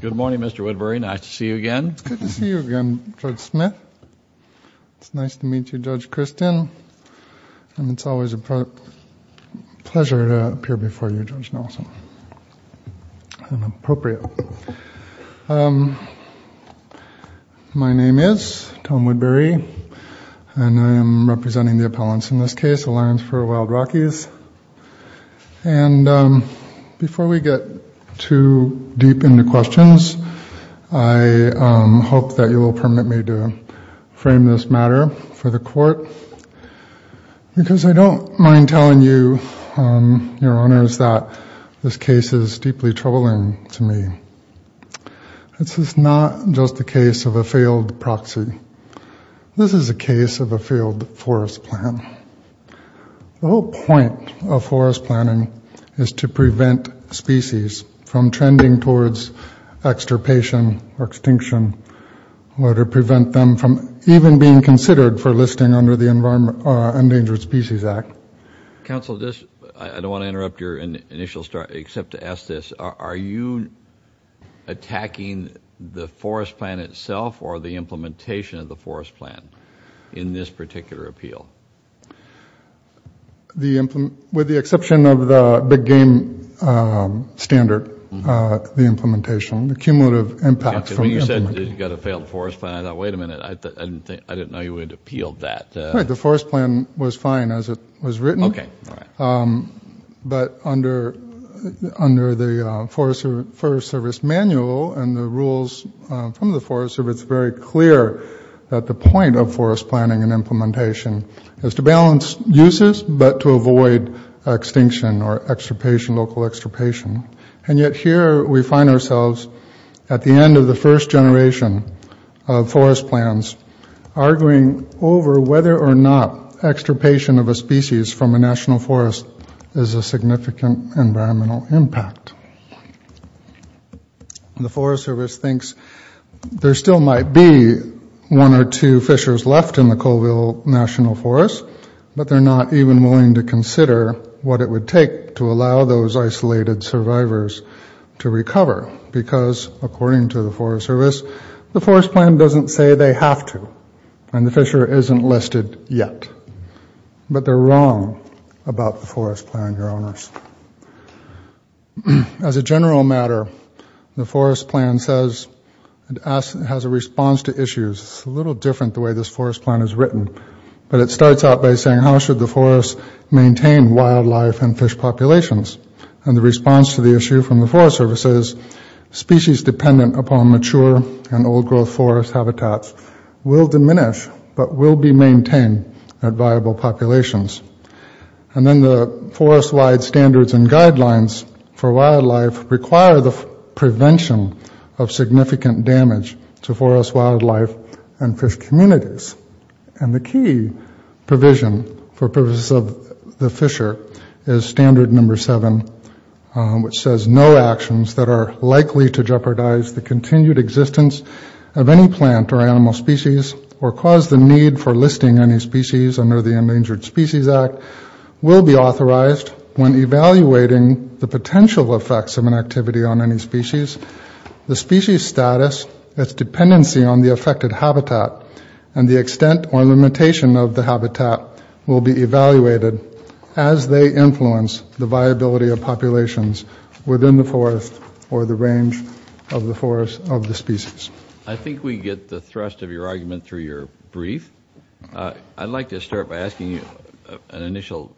Good morning, Mr. Woodbury. Nice to see you again. It's good to see you again, Judge Smith. It's nice to meet you, Judge Christin, and it's always a pleasure to appear before you, Judge Nelson. I'm appropriate. My name is Tom Woodbury and I am representing the appellants in this case, the Lions for Wild Rockies. And before we get too deep into questions, I hope that you will permit me to frame this matter for the court because I don't mind telling you, your honors, that this case is deeply troubling to me. This is not just the case of a failed proxy. This is a case of a failed forest plan. The whole point of forest planning is to prevent species from trending towards extirpation or extinction, or to prevent them from even being considered for listing under the Endangered Species Act. Counsel, I don't want to interrupt your initial start, except to ask this. Are you attacking the forest plan itself or the implementation of the forest plan in this particular appeal? With the exception of the big game standard, the implementation, the cumulative impact. When you said you got a failed forest plan, I thought, wait a minute, I didn't know you would appeal that. Right, the forest plan was fine as it was written, but under the Forest Service manual and the rules from the Forest Service, it's very clear that the point of forest planning and implementation is to balance uses, but to avoid extinction or extirpation, local extirpation. And yet here we find ourselves at the end of the first generation of forest plans, arguing over whether or not extirpation of a species from a national forest is a significant environmental impact. The Forest Service thinks there still might be one or two fishers left in the Colville National Forest, but they're not even willing to consider what it would take to allow those isolated survivors to recover, because according to the Forest Service, the forest plan doesn't say they have to, and the fisher isn't listed yet. But they're wrong about the forest plan, Your As a general matter, the forest plan says it has a response to issues. It's a little different the way this forest plan is written, but it starts out by saying how should the forest maintain wildlife and fish populations? And the response to the issue from the Forest Service is species dependent upon mature and old-growth forest habitats will diminish, but will be maintained at The forest-wide standards and guidelines for wildlife require the prevention of significant damage to forest wildlife and fish communities, and the key provision for purposes of the fisher is standard number seven, which says no actions that are likely to jeopardize the continued existence of any plant or animal species, or cause the need for listing any species under the authorized when evaluating the potential effects of an activity on any species, the species status, its dependency on the affected habitat, and the extent or limitation of the habitat will be evaluated as they influence the viability of populations within the forest or the range of the forest of the species. I think we get the thrust of your argument through your brief. I'd like to start by asking you an initial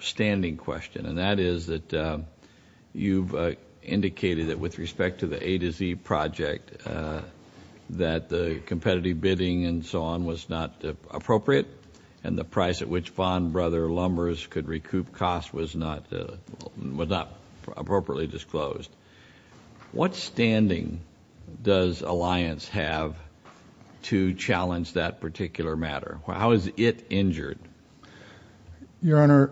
standing question, and that is that you've indicated that with respect to the A to Z project that the competitive bidding and so on was not appropriate, and the price at which bond brother lumbers could recoup cost was not was not appropriately disclosed. What standing does Alliance have to challenge that particular matter? How is it injured? Your Honor,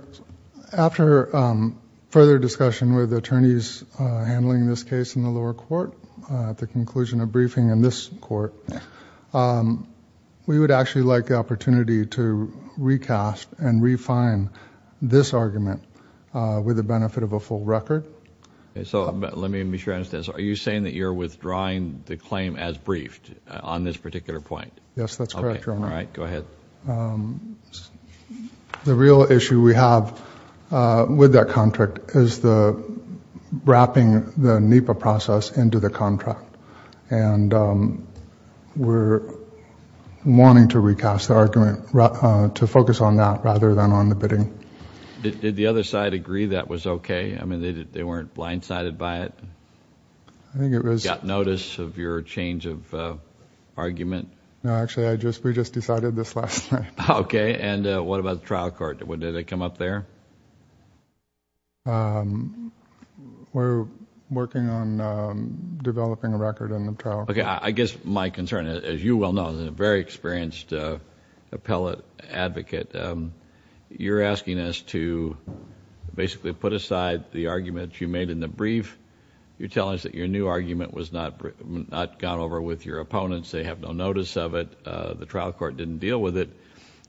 after further discussion with attorneys handling this case in the lower court at the conclusion of briefing in this court, we would actually like the opportunity to recast and refine this argument with the saying that you're withdrawing the claim as briefed on this particular point. Yes, that's correct. All right, go ahead. The real issue we have with that contract is the wrapping the NEPA process into the contract, and we're wanting to recast the argument to focus on that rather than on the bidding. Did the other side agree that was okay? I mean, they weren't blindsided by it? I think it was... Got notice of your change of argument? No, actually, I just we just decided this last night. Okay, and what about the trial court? Did they come up there? We're working on developing a record in the trial. Okay, I guess my concern, as you well know, as a very experienced appellate advocate, you're asking us to basically put aside the argument you made in the brief. You're telling us that your new argument was not gone over with your opponents. They have no notice of it. The trial court didn't deal with it.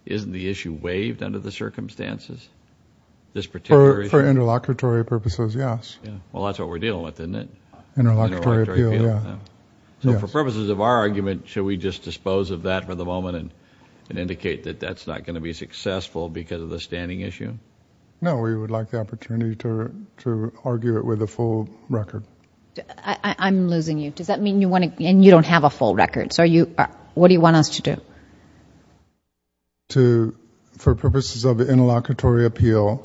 Isn't the issue waived under the circumstances? This particular... For interlocutory purposes, yes. Well, that's what we're dealing with, isn't it? Interlocutory appeal, yeah. So for purposes of our argument, should we just dispose of that for the moment and indicate that that's not going to be successful because of the standing issue? No, we would like the opportunity to argue it with a full record. I'm losing you. Does that mean you want to... and you don't have a full record, so are you... what do you want us to do? To... for purposes of interlocutory appeal,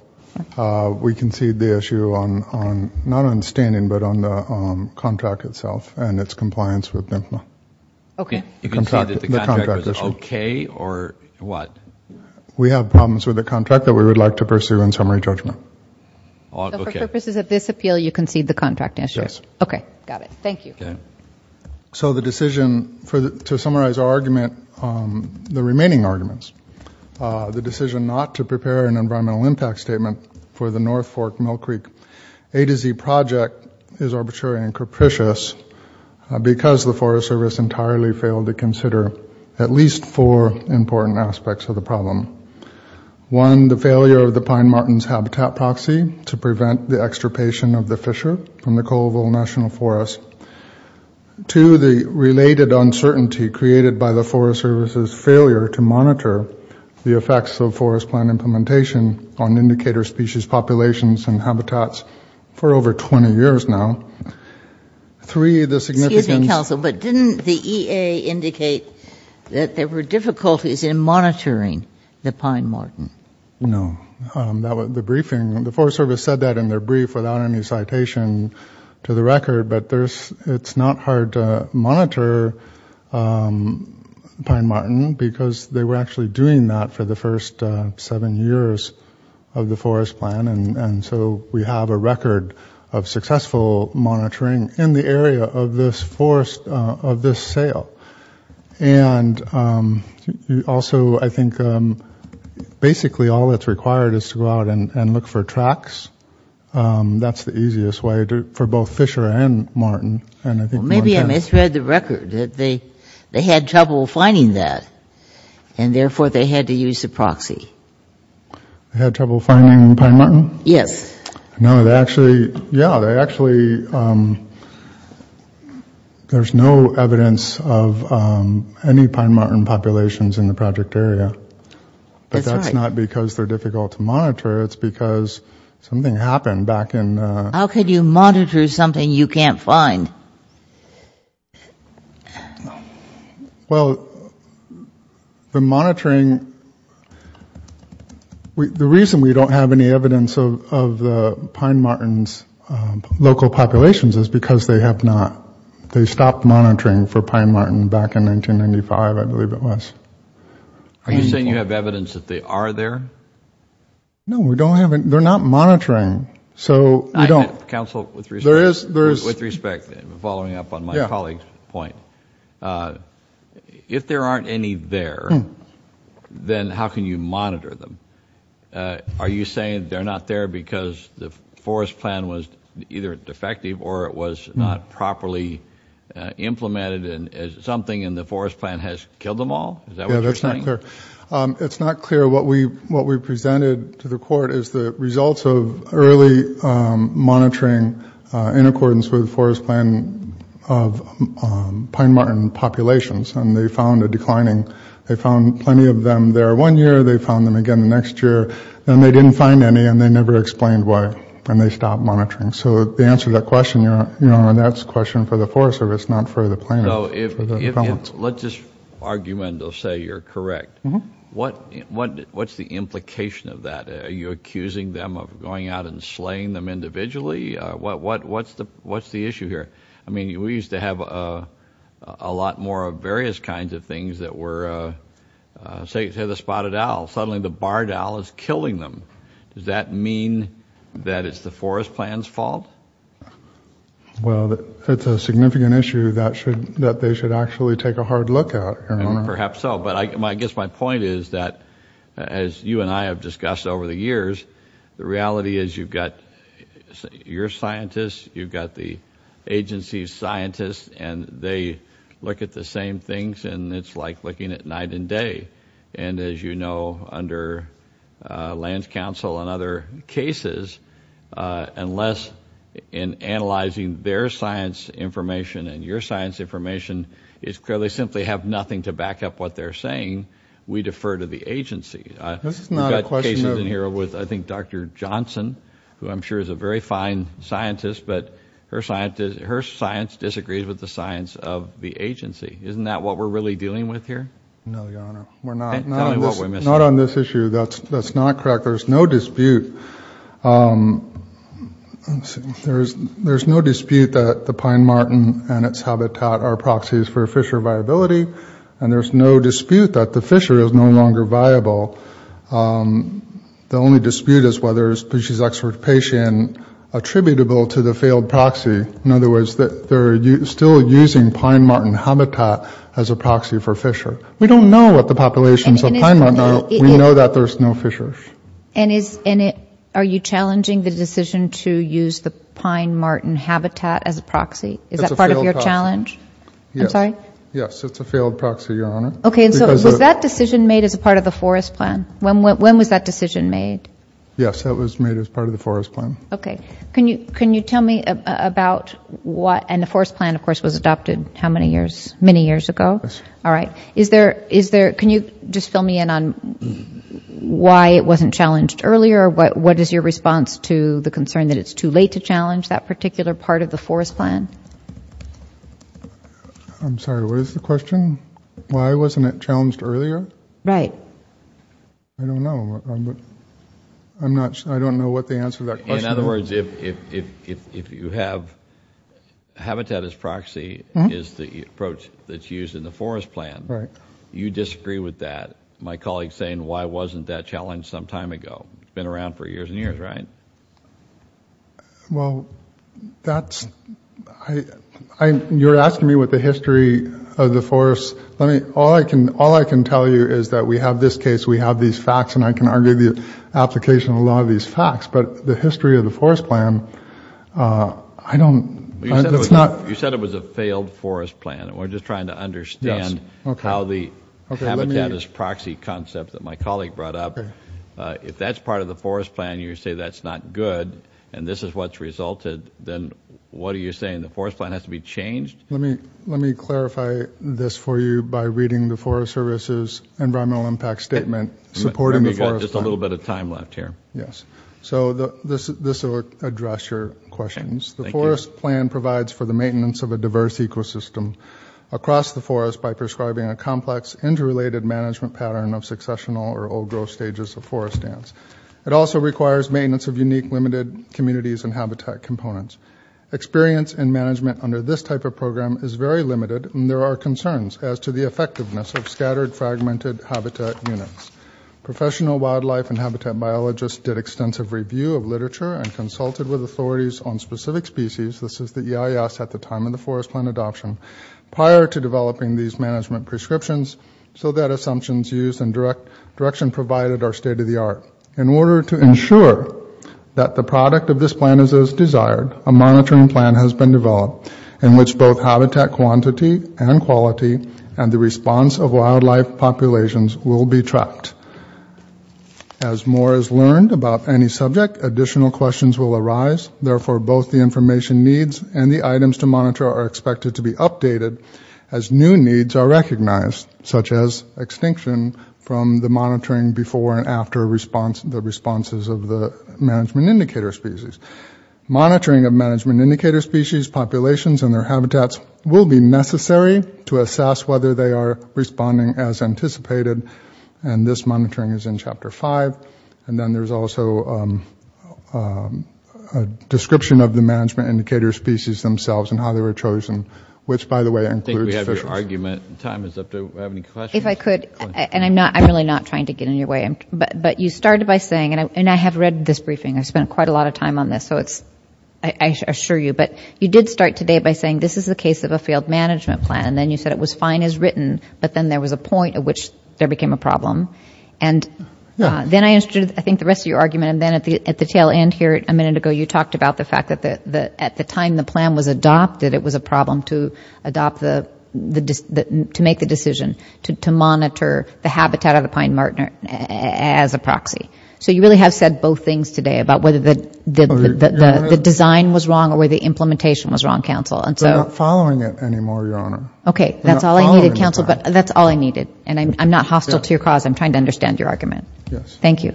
we concede the issue on... not on Okay. You concede that the contract was okay or what? We have problems with the contract that we would like to pursue in summary judgment. So for purposes of this appeal, you concede the contract issue? Yes. Okay, got it. Thank you. So the decision for the... to summarize our argument, the remaining arguments, the decision not to prepare an environmental impact statement for the North Fork Mill Creek A-Z project is arbitrary and the Forest Service entirely failed to consider at least four important aspects of the problem. One, the failure of the Pine Martins Habitat Proxy to prevent the extirpation of the fissure from the Colville National Forest. Two, the related uncertainty created by the Forest Service's failure to monitor the effects of forest plan implementation on indicator species populations and Didn't the EA indicate that there were difficulties in monitoring the Pine Martin? No. That was the briefing. The Forest Service said that in their brief without any citation to the record, but there's... it's not hard to monitor Pine Martin because they were actually doing that for the first seven years of the forest plan and so we have a record of successful monitoring in the area of this forest of this sale. And also I think basically all that's required is to go out and look for tracks. That's the easiest way for both fissure and Martin. Maybe I misread the record. They had trouble finding that and therefore they had to use the proxy. Had trouble finding the Pine Martin? Yes. No, actually, yeah, they actually... there's no evidence of any Pine Martin populations in the project area. But that's not because they're difficult to monitor. It's because something happened back in... How could you monitor something you can't find? Well, the monitoring... the reason we don't have any evidence of the Pine Martin's local populations is because they have not... they stopped monitoring for Pine Martin back in 1995, I believe it was. Are you saying you have evidence that they are there? No, we don't have... they're not monitoring, so we don't... Counsel, with respect, following up on my colleague's point, if there aren't any there, then how can you monitor them? Are you saying they're not there because the forest plan was either defective or it was not properly implemented and something in the forest plan has killed them all? Is that what you're saying? It's not clear. What we presented to the court is the results of early monitoring in accordance with the forest plan of Pine Martin populations, and they found a declining... they found plenty of them there one year, they found them again the next year, and they didn't find any, and they never explained why, and they stopped monitoring. So the answer to that question, Your Honor, that's a question for the Forest Service, not for the planners. Let's just argument or say you're correct. What's the implication of that? Are you accusing them of going out and slaying them individually? What's the issue here? I mean, we used to have a lot more of various kinds of things that were... say the spotted owl, suddenly the does that mean that it's the forest plan's fault? Well, it's a significant issue that should... that they should actually take a hard look at. Perhaps so, but I guess my point is that, as you and I have discussed over the years, the reality is you've got your scientists, you've got the agency's scientists, and they look at the same things, and it's like looking at night and day. And as you know, under Land Council and other cases, unless in analyzing their science information and your science information, it's clear they simply have nothing to back up what they're saying, we defer to the agency. This is not a question... I think Dr. Johnson, who I'm sure is a very fine scientist, but her science disagrees with the science of the agency. Isn't that what we're really dealing with here? No, Your Honor. We're not. Not on this issue. That's not correct. There's no dispute. There's no dispute that the Pine Martin and its habitat are proxies for fisher viability, and there's no dispute that the fisher is no longer viable. The only dispute is whether the fisher's excavation attributable to the failed proxy. In other words, that they're still using Pine Martin habitat as a proxy for fisher. We don't know what the populations of Pine Martin are. We know that there's no fisher. And are you challenging the decision to use the Pine Martin habitat as a proxy? Is that part of your challenge? I'm sorry? Yes, it's a failed proxy, Your Honor. Okay, and so was that decision made as a part of the forest plan? When was that decision made? Yes, it was made as part of the forest plan. Okay. Can you tell me about what... it was adopted how many years... many years ago? Yes. All right. Is there... is there... can you just fill me in on why it wasn't challenged earlier? What is your response to the concern that it's too late to challenge that particular part of the forest plan? I'm sorry, what is the question? Why wasn't it challenged earlier? Right. I don't know. I'm not... I don't know what the answer to that question is. In other words, why wasn't it challenged as a proxy is the approach that's used in the forest plan. Right. You disagree with that, my colleague's saying, why wasn't that challenged some time ago? It's been around for years and years, right? Well, that's... I... you're asking me what the history of the forest... let me... all I can... all I can tell you is that we have this case, we have these facts, and I can argue the application of a lot of these facts, but the history of the forest plan... I don't... it's not... You said it was a failed forest plan, and we're just trying to understand how the habitat is proxy concept that my colleague brought up. If that's part of the forest plan, you say that's not good, and this is what's resulted, then what are you saying? The forest plan has to be changed? Let me... let me clarify this for you by reading the Forest Service's environmental impact statement supporting the forest plan. Just a little bit of this will address your questions. The forest plan provides for the maintenance of a diverse ecosystem across the forest by prescribing a complex interrelated management pattern of successional or old growth stages of forest dance. It also requires maintenance of unique limited communities and habitat components. Experience and management under this type of program is very limited, and there are concerns as to the effectiveness of scattered fragmented habitat units. Professional wildlife and habitat biologists did extensive review of literature and consulted with authorities on specific species, this is the EIS at the time of the forest plan adoption, prior to developing these management prescriptions so that assumptions used and direction provided are state-of-the-art. In order to ensure that the product of this plan is as desired, a monitoring plan has been developed in which both habitat quantity and quality and the response of wildlife populations will be tracked. As more is learned about any subject, additional questions will arise, therefore both the information needs and the items to monitor are expected to be updated as new needs are recognized, such as extinction from the monitoring before and after the responses of the management indicator species. Monitoring of management indicator species populations and their habitats will be necessary to assess whether they are responding as anticipated, and this And then there's also a description of the management indicator species themselves and how they were chosen, which, by the way, includes fish. I think we have your argument, time is up, do we have any questions? If I could, and I'm not, I'm really not trying to get in your way, but you started by saying, and I have read this briefing, I've spent quite a lot of time on this, so it's, I assure you, but you did start today by saying this is the case of a failed management plan, and then you said it was fine as written, but then there was a point at which there became a problem, and then I understood, I think, the rest of your argument, and then at the tail end here a minute ago, you talked about the fact that at the time the plan was adopted, it was a problem to adopt the, to make the decision to monitor the habitat of the pine martin as a proxy. So you really have said both things today about whether the design was wrong or whether the implementation was wrong, counsel, and so. We're not following it anymore, your honor. Okay, that's all I needed, counsel, but that's all I needed, and I'm not hostile to your cause, I'm trying to understand your argument. Yes. Thank you.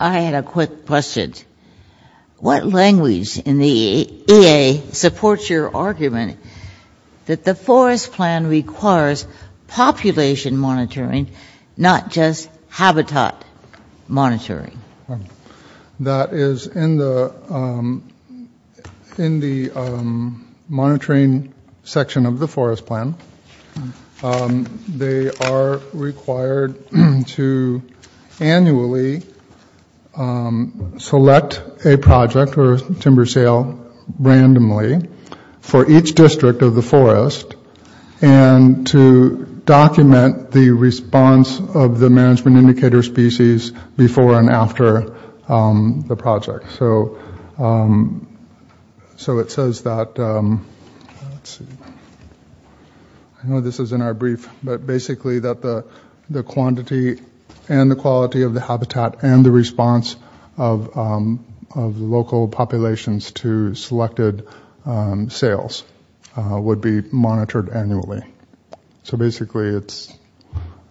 I had a quick question. What language in the EA supports your argument that the forest plan requires population monitoring, not just habitat monitoring? That is in the, in the monitoring section of the forest plan, they are required to annually select a project or timber sale randomly for each district of the forest and to document the response of the management indicator species before and after the project, so it says that, let's see, I know this is in our brief, but basically that the quantity and the quality of the habitat and the response of, of local populations to selected sales would be monitored annually. So basically it's,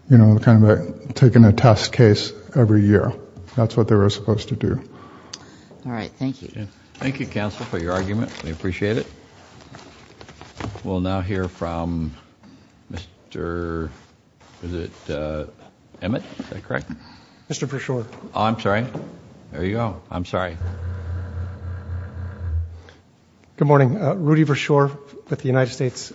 you know, kind of a, taking a test case every year. That's what they were supposed to do. All right, thank you. Thank you, counsel, for your argument, we appreciate it. We'll now hear from Mr., is it Emmett, is that correct? Mr. Pershore. Oh, I'm sorry. There you go. I'm sorry. Good morning. Rudy Pershore with the United States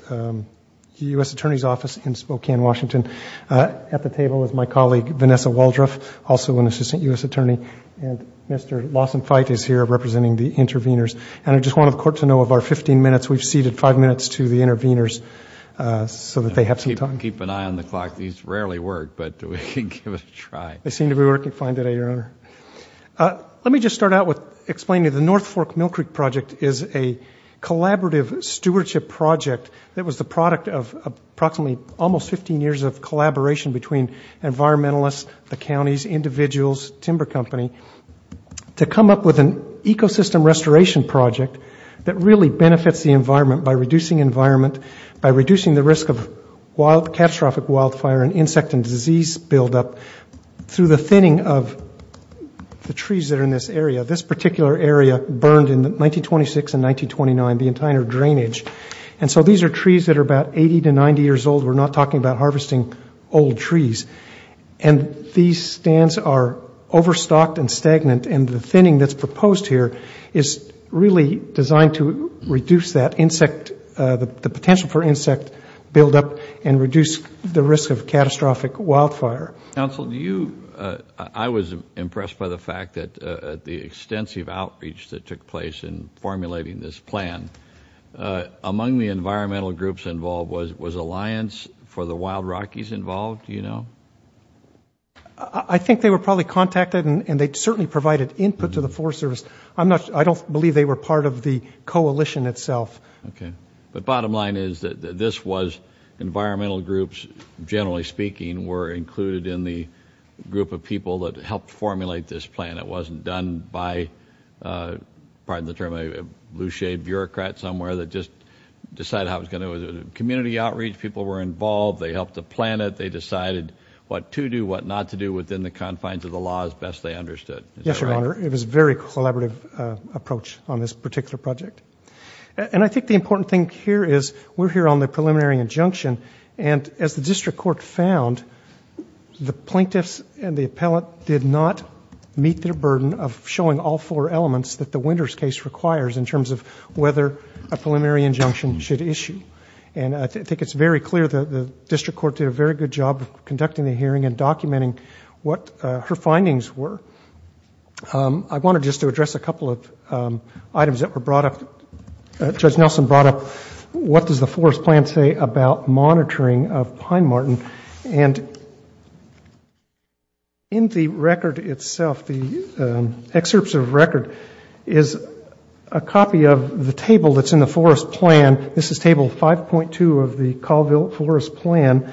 U.S. Attorney's Office in Spokane, Washington. At the table is my colleague, Vanessa Waldroff, also an assistant U.S. attorney, and Mr. Lawson Feit is here representing the intervenors, and I just wanted the court to know of our 15 minutes, we've ceded five minutes to the intervenors so that they have some time. Keep an eye on the clock. These rarely work, but we can give it a try. They seem to be working fine today, Your Honor. Let me just start out with explaining the North Fork Mill Creek Project is a collaborative stewardship project that was the product of approximately almost 15 years of collaboration between environmentalists, the counties, individuals, timber company, to come up with an ecosystem restoration project that really benefits the environment by reducing environment, by reducing the risk of wild, catastrophic wildfire and insect and disease buildup through the thinning of the trees that are in this area. This particular area burned in 1926 and 1929, the entire drainage. And so these are trees that are about 80 to 90 years old. We're not talking about harvesting old trees. And these stands are overstocked and stagnant, and the thinning that's proposed here is really designed to reduce that insect, the potential for insect buildup and reduce the risk of catastrophic wildfire. Counsel, do you, I was impressed by the fact that the extensive outreach that took place in formulating this plan, among the environmental groups involved was Alliance for the Wild Rockies involved, do you know? I think they were probably contacted and they certainly provided input to the Forest Service. I don't believe they were part of the coalition itself. Okay. But bottom line is that this was environmental groups, generally speaking, were included in the group of people that helped formulate this plan. It wasn't done by, pardon the term, a lousy bureaucrat somewhere that just decided how it was going to do it. It was a community outreach, people were involved, they helped to plan it, they decided what to do, what not to do within the confines of the law as best they understood. Yes, Your Honor. It was a very collaborative approach on this particular project. And I think the important thing here is we're here on the preliminary injunction and as the district court found, the plaintiffs and the appellate did not meet their burden of showing all four elements that the Winters case requires in terms of whether a preliminary injunction should issue. And I think it's very clear that the district court did a very good job of conducting the I wanted just to address a couple of items that were brought up, Judge Nelson brought up what does the forest plan say about monitoring of Pine Marten. And in the record itself, the excerpts of record is a copy of the table that's in the forest plan. This is table 5.2 of the Colville forest plan,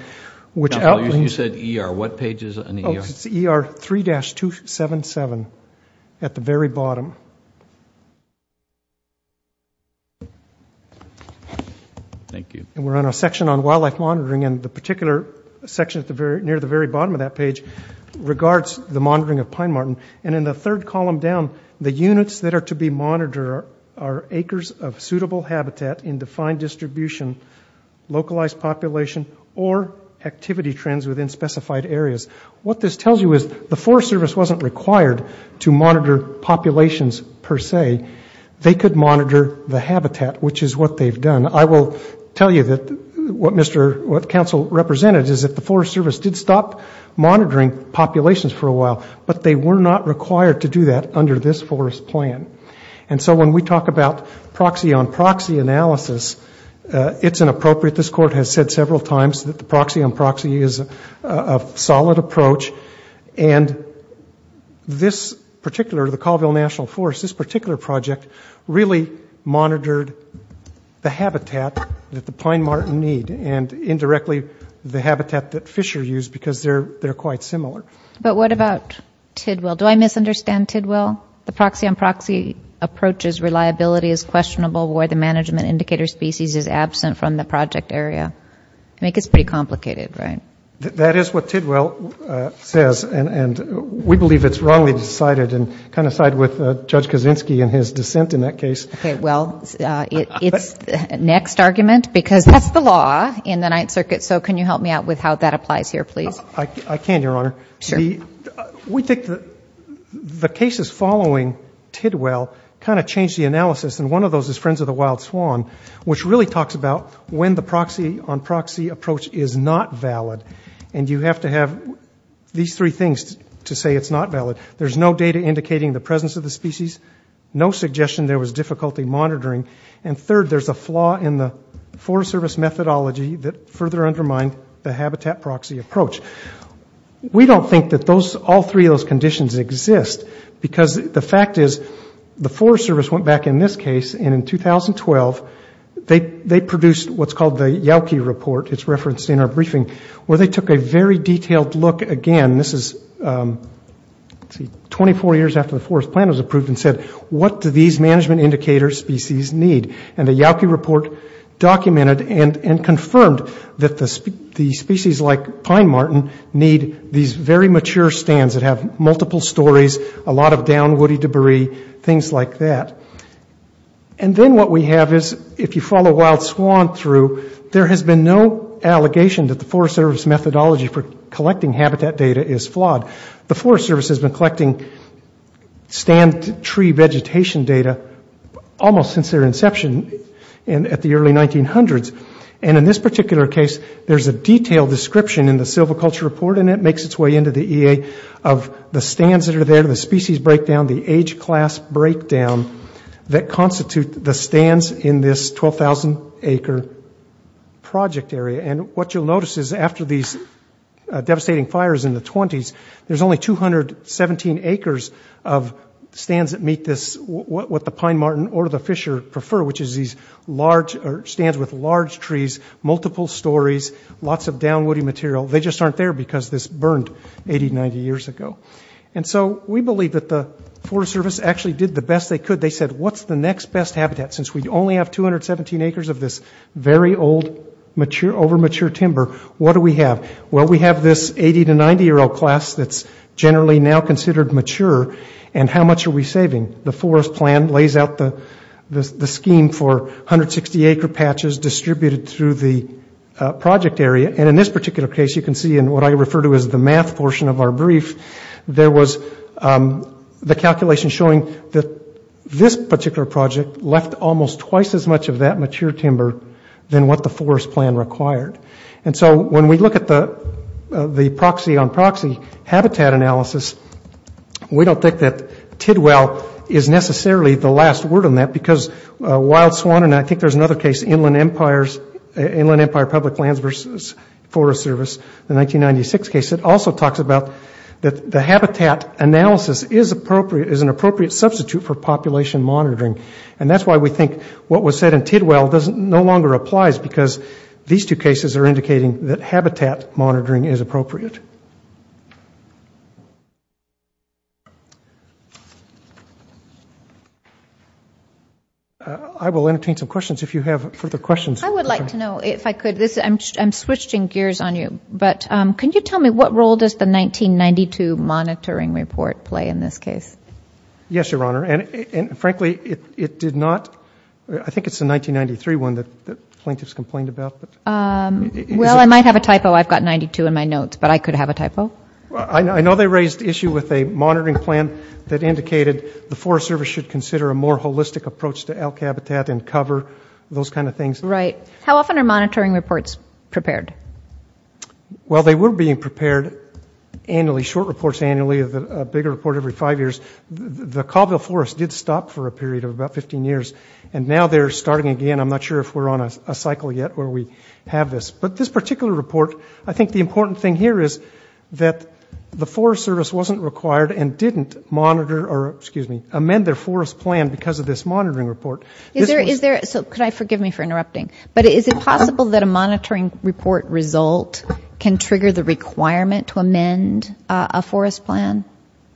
which outlines. You said ER. What page is in the ER? It's ER 3-277 at the very bottom. Thank you. And we're on a section on wildlife monitoring. And the particular section at the very near the very bottom of that page regards the monitoring of Pine Marten. And in the third column down, the units that are to be monitor are acres of suitable habitat in defined distribution, localized population or activity trends within specified areas. What this tells you is the Forest Service wasn't required to monitor populations per se. They could monitor the habitat, which is what they've done. I will tell you that what council represented is that the Forest Service did stop monitoring populations for a while, but they were not required to do that under this forest plan. And so when we talk about proxy on proxy analysis, it's inappropriate. This court has said several times that the proxy on proxy is a solid approach. And this particular, the Colville National Forest, this particular project really monitored the habitat that the Pine Marten need and indirectly the habitat that Fisher used because they're quite similar. But what about Tidwell? Do I misunderstand Tidwell? The proxy on proxy approach's reliability is questionable where the management indicator species is absent from the project area. I think it's pretty complicated, right? That is what Tidwell says, and we believe it's wrongly decided and kind of side with Judge Kaczynski and his dissent in that case. Okay, well, it's next argument because that's the law in the Ninth Circuit. So can you help me out with how that applies here, please? I can, Your Honor. We think the cases following Tidwell kind of changed the analysis. And one of those is Friends of the Wild Swan, which really talks about when the proxy on proxy approach is not valid. And you have to have these three things to say it's not valid. There's no data indicating the presence of the species, no suggestion there was difficulty monitoring, and third, there's a flaw in the Forest Service methodology that further undermined the habitat proxy approach. We don't think that those, all three of those conditions exist because the fact is the Forest Service went back in this case, and in 2012, they produced what's called the Yowkey Report. It's referenced in our briefing, where they took a very detailed look again. This is, let's see, 24 years after the Forest Plan was approved and said, what do these management indicator species need? And the Yowkey Report documented and confirmed that the species like pine marten need these very mature stands that have multiple stories, a lot of down woody debris, things like that. And then what we have is, if you follow Wild Swan through, there has been no allegation that the Forest Service methodology for collecting habitat data is flawed. The Forest Service has been collecting stand tree vegetation data almost since their inception at the early 1900s, and in this particular case, there's a detailed description in the silviculture report, and it makes its way into the EA of the stands that are there, the species breakdown, the age class breakdown that constitute the stands in this 12,000-acre project area. And what you'll notice is, after these devastating fires in the 20s, there's only 217 acres of stands that meet this, what the pine marten or the fisher prefer, which is these large or stands with large trees, multiple stories, lots of down woody material. They just aren't there because this burned 80, 90 years ago. And so we believe that the Forest Service actually did the best they could. They said, what's the next best habitat? Since we only have 217 acres of this very old, over-mature timber, what do we have? Well, we have this 80- to 90-year-old class that's generally now considered mature, and how much are we saving? The forest plan lays out the scheme for 160-acre patches distributed through the project area, and in this particular case, you can see in what I refer to as the math portion of our There was the calculation showing that this particular project left almost twice as much of that mature timber than what the forest plan required. And so when we look at the proxy on proxy habitat analysis, we don't think that Tidwell is necessarily the last word on that because Wild Swan, and I think there's another case, Inland Empire Public Lands versus Forest Service, the 1996 case, it also talks about that the habitat analysis is an appropriate substitute for population monitoring. And that's why we think what was said in Tidwell no longer applies because these two cases are indicating that habitat monitoring is appropriate. I will entertain some questions if you have further questions. I would like to know, if I could, I'm switching gears on you, but can you tell me what role does the 1992 monitoring report play in this case? Yes, Your Honor, and frankly, it did not, I think it's the 1993 one that plaintiffs complained about. Well, I might have a typo, I've got 92 in my notes, but I could have a typo. I know they raised the issue with a monitoring plan that indicated the Forest Service should consider a more holistic approach to elk habitat and cover, those kind of things. Right. How often are monitoring reports prepared? Well, they were being prepared annually, short reports annually, a bigger report every five years. The Colville Forest did stop for a period of about 15 years, and now they're starting again. I'm not sure if we're on a cycle yet where we have this. But this particular report, I think the important thing here is that the Forest Service wasn't required and didn't monitor or, excuse me, amend their forest plan because of this monitoring report. Is there, so could I, forgive me for interrupting, but is it possible that a monitoring report result can trigger the requirement to amend a forest plan?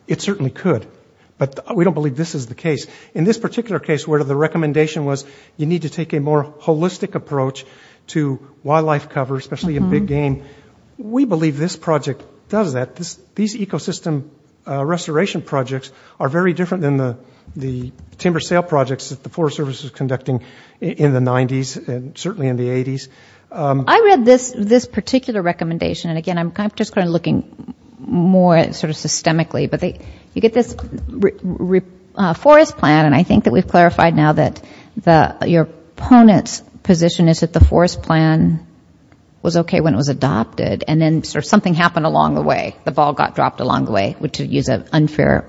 It certainly could, but we don't believe this is the case. In this particular case where the recommendation was you need to take a more holistic approach to wildlife cover, especially in big game, we believe this project does that. These ecosystem restoration projects are very different than the timber sale projects that the Forest Service was conducting in the 90s and certainly in the 80s. I read this particular recommendation, and again, I'm just kind of looking more sort of systemically, but you get this forest plan, and I think that we've clarified now that your opponent's position is that the forest plan was okay when it was adopted, and then sort of something happened along the way. The ball got dropped along the way, to use an unfair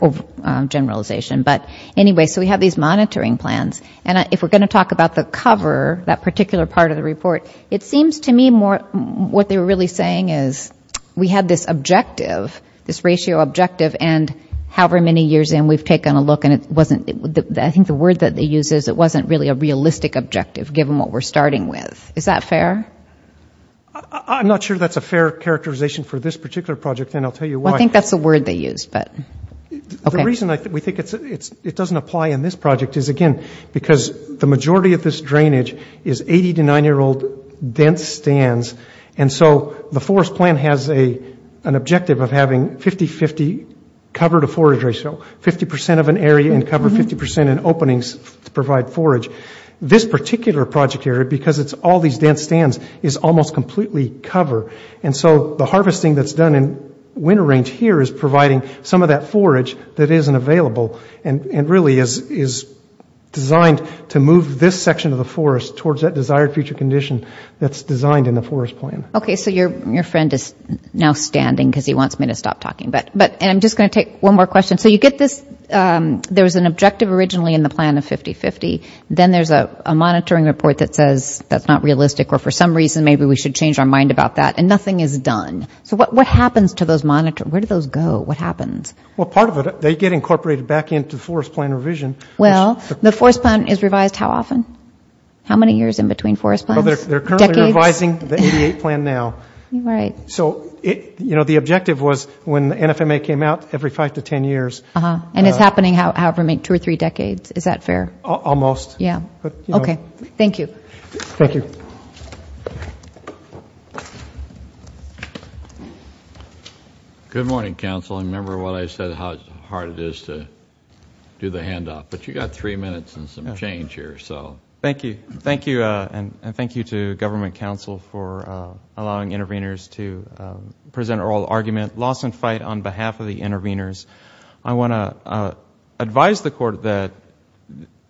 generalization. But anyway, so we have these monitoring plans, and if we're going to talk about the cover, that particular part of the report, it seems to me more what they were really saying is we had this objective, this ratio objective, and however many years in, we've taken a look and it wasn't, I think the word that they used is it wasn't really a realistic objective, given what we're starting with. Is that fair? I'm not sure that's a fair characterization for this particular project, and I'll tell you why. I think that's the word they used, but okay. The reason I think we think it doesn't apply in this project is, again, because the majority of this drainage is 80- to 9-year-old dense stands, and so the forest plan has an objective of having 50-50 cover to forage ratio, 50 percent of an area and cover 50 percent in openings to provide forage. This particular project area, because it's all these dense stands, is almost completely cover, and so the harvesting that's done in winter range here is providing some of that section of the forest towards that desired future condition that's designed in the forest plan. Okay. So your friend is now standing because he wants me to stop talking, but I'm just going to take one more question. So you get this, there was an objective originally in the plan of 50-50, then there's a monitoring report that says that's not realistic, or for some reason maybe we should change our mind about that, and nothing is done. So what happens to those monitor, where do those go? What happens? Well, part of it, they get incorporated back into the forest plan revision. Well, the forest plan is revised how often? How many years in between forest plans? They're currently revising the 88 plan now. So the objective was when the NFMA came out, every five to ten years. And it's happening, however, in two or three decades. Is that fair? Almost. Yeah. Okay. Thank you. Thank you. Good morning, counsel, and remember what I said, how hard it is to do the handoff, but you got three minutes and some change here, so. Thank you. Thank you, and thank you to government counsel for allowing intervenors to present oral argument. Loss and fight on behalf of the intervenors. I want to advise the court that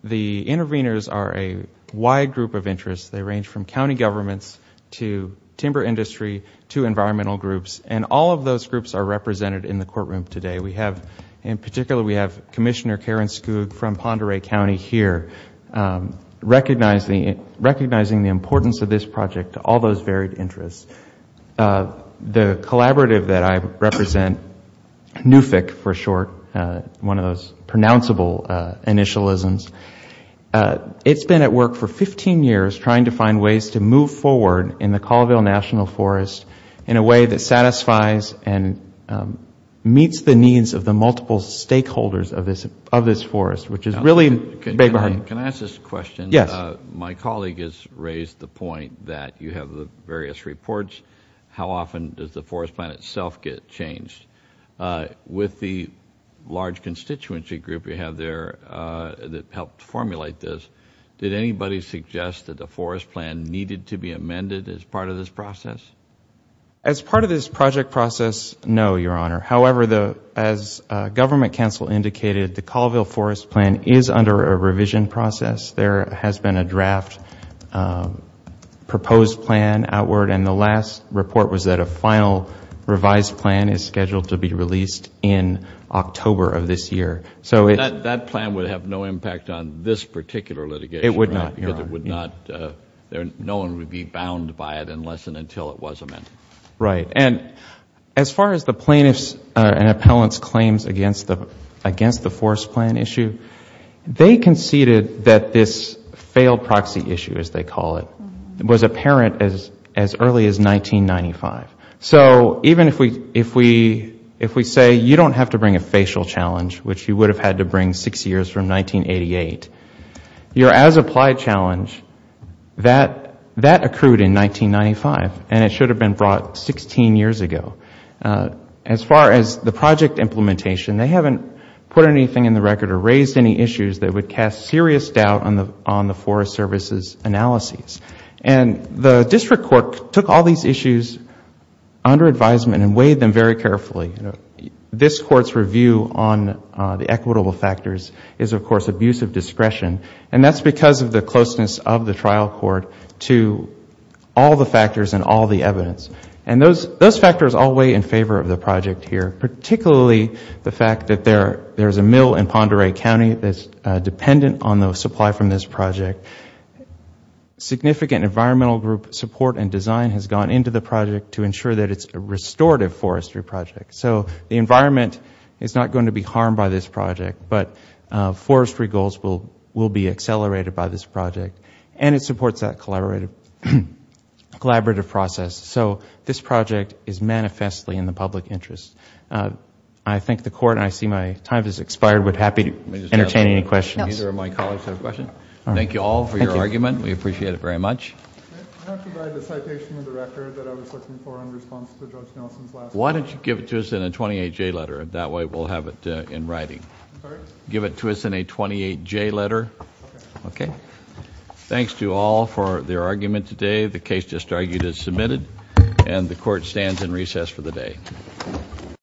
the intervenors are a wide group of interests. They range from county governments to timber industry to environmental groups, and all of those groups are represented in the courtroom today. We have, in particular, we have Commissioner Karen Skoug from Ponderay County here, recognizing the importance of this project to all those varied interests. The collaborative that I represent, NUFIC for short, one of those pronounceable initialisms, it's been at work for 15 years trying to find ways to move forward in the Colville National Forest in a way that satisfies and meets the needs of the multiple stakeholders of this forest, which is really a big burden. Can I ask this question? Yes. My colleague has raised the point that you have the various reports. How often does the forest plan itself get changed? With the large constituency group you have there that helped formulate this, did anybody suggest that the forest plan needed to be amended as part of this process? As part of this project process, no, Your Honor. However, as government counsel indicated, the Colville forest plan is under a revision process. There has been a draft proposed plan outward, and the last report was that a final revised plan is scheduled to be released in October of this year. That plan would have no impact on this particular litigation? It would not, Your Honor. No one would be bound by it unless and until it was amended. As far as the plaintiffs and appellants' claims against the forest plan issue, they conceded that this failed proxy issue, as they call it, was apparent as early as 1995. So even if we say you don't have to bring a facial challenge, which you would have had to bring six years from 1988, your as-applied challenge, that accrued in 1995, and it should have been brought 16 years ago. As far as the project implementation, they haven't put anything in the record or raised any issues that would cast serious doubt on the Forest Service's analyses. The district court took all these issues under advisement and weighed them very carefully. This court's review on the equitable factors is, of course, abuse of discretion, and that's because of the closeness of the trial court to all the factors and all the evidence. Those factors all weigh in favor of the project here, particularly the fact that there is a mill in Pend Oreille County that's dependent on the supply from this project. Significant environmental group support and design has gone into the project to ensure that it's a restorative forestry project. So the environment is not going to be harmed by this project, but forestry goals will be accelerated by this project, and it supports that collaborative process. So this project is manifestly in the public interest. I thank the court, and I see my time has expired, but happy to entertain any questions. Thank you all for your argument. We appreciate it very much. Why don't you give it to us in a 28J letter? That way we'll have it in writing. Give it to us in a 28J letter. Okay. Thanks to all for their argument today. The case just argued is submitted, and the court stands in recess for the day. Thank you. Thank you. Thank you. Thank you. Thank you. Thank you. Thank you. Thank you. Thank you. Thank you. Thank you.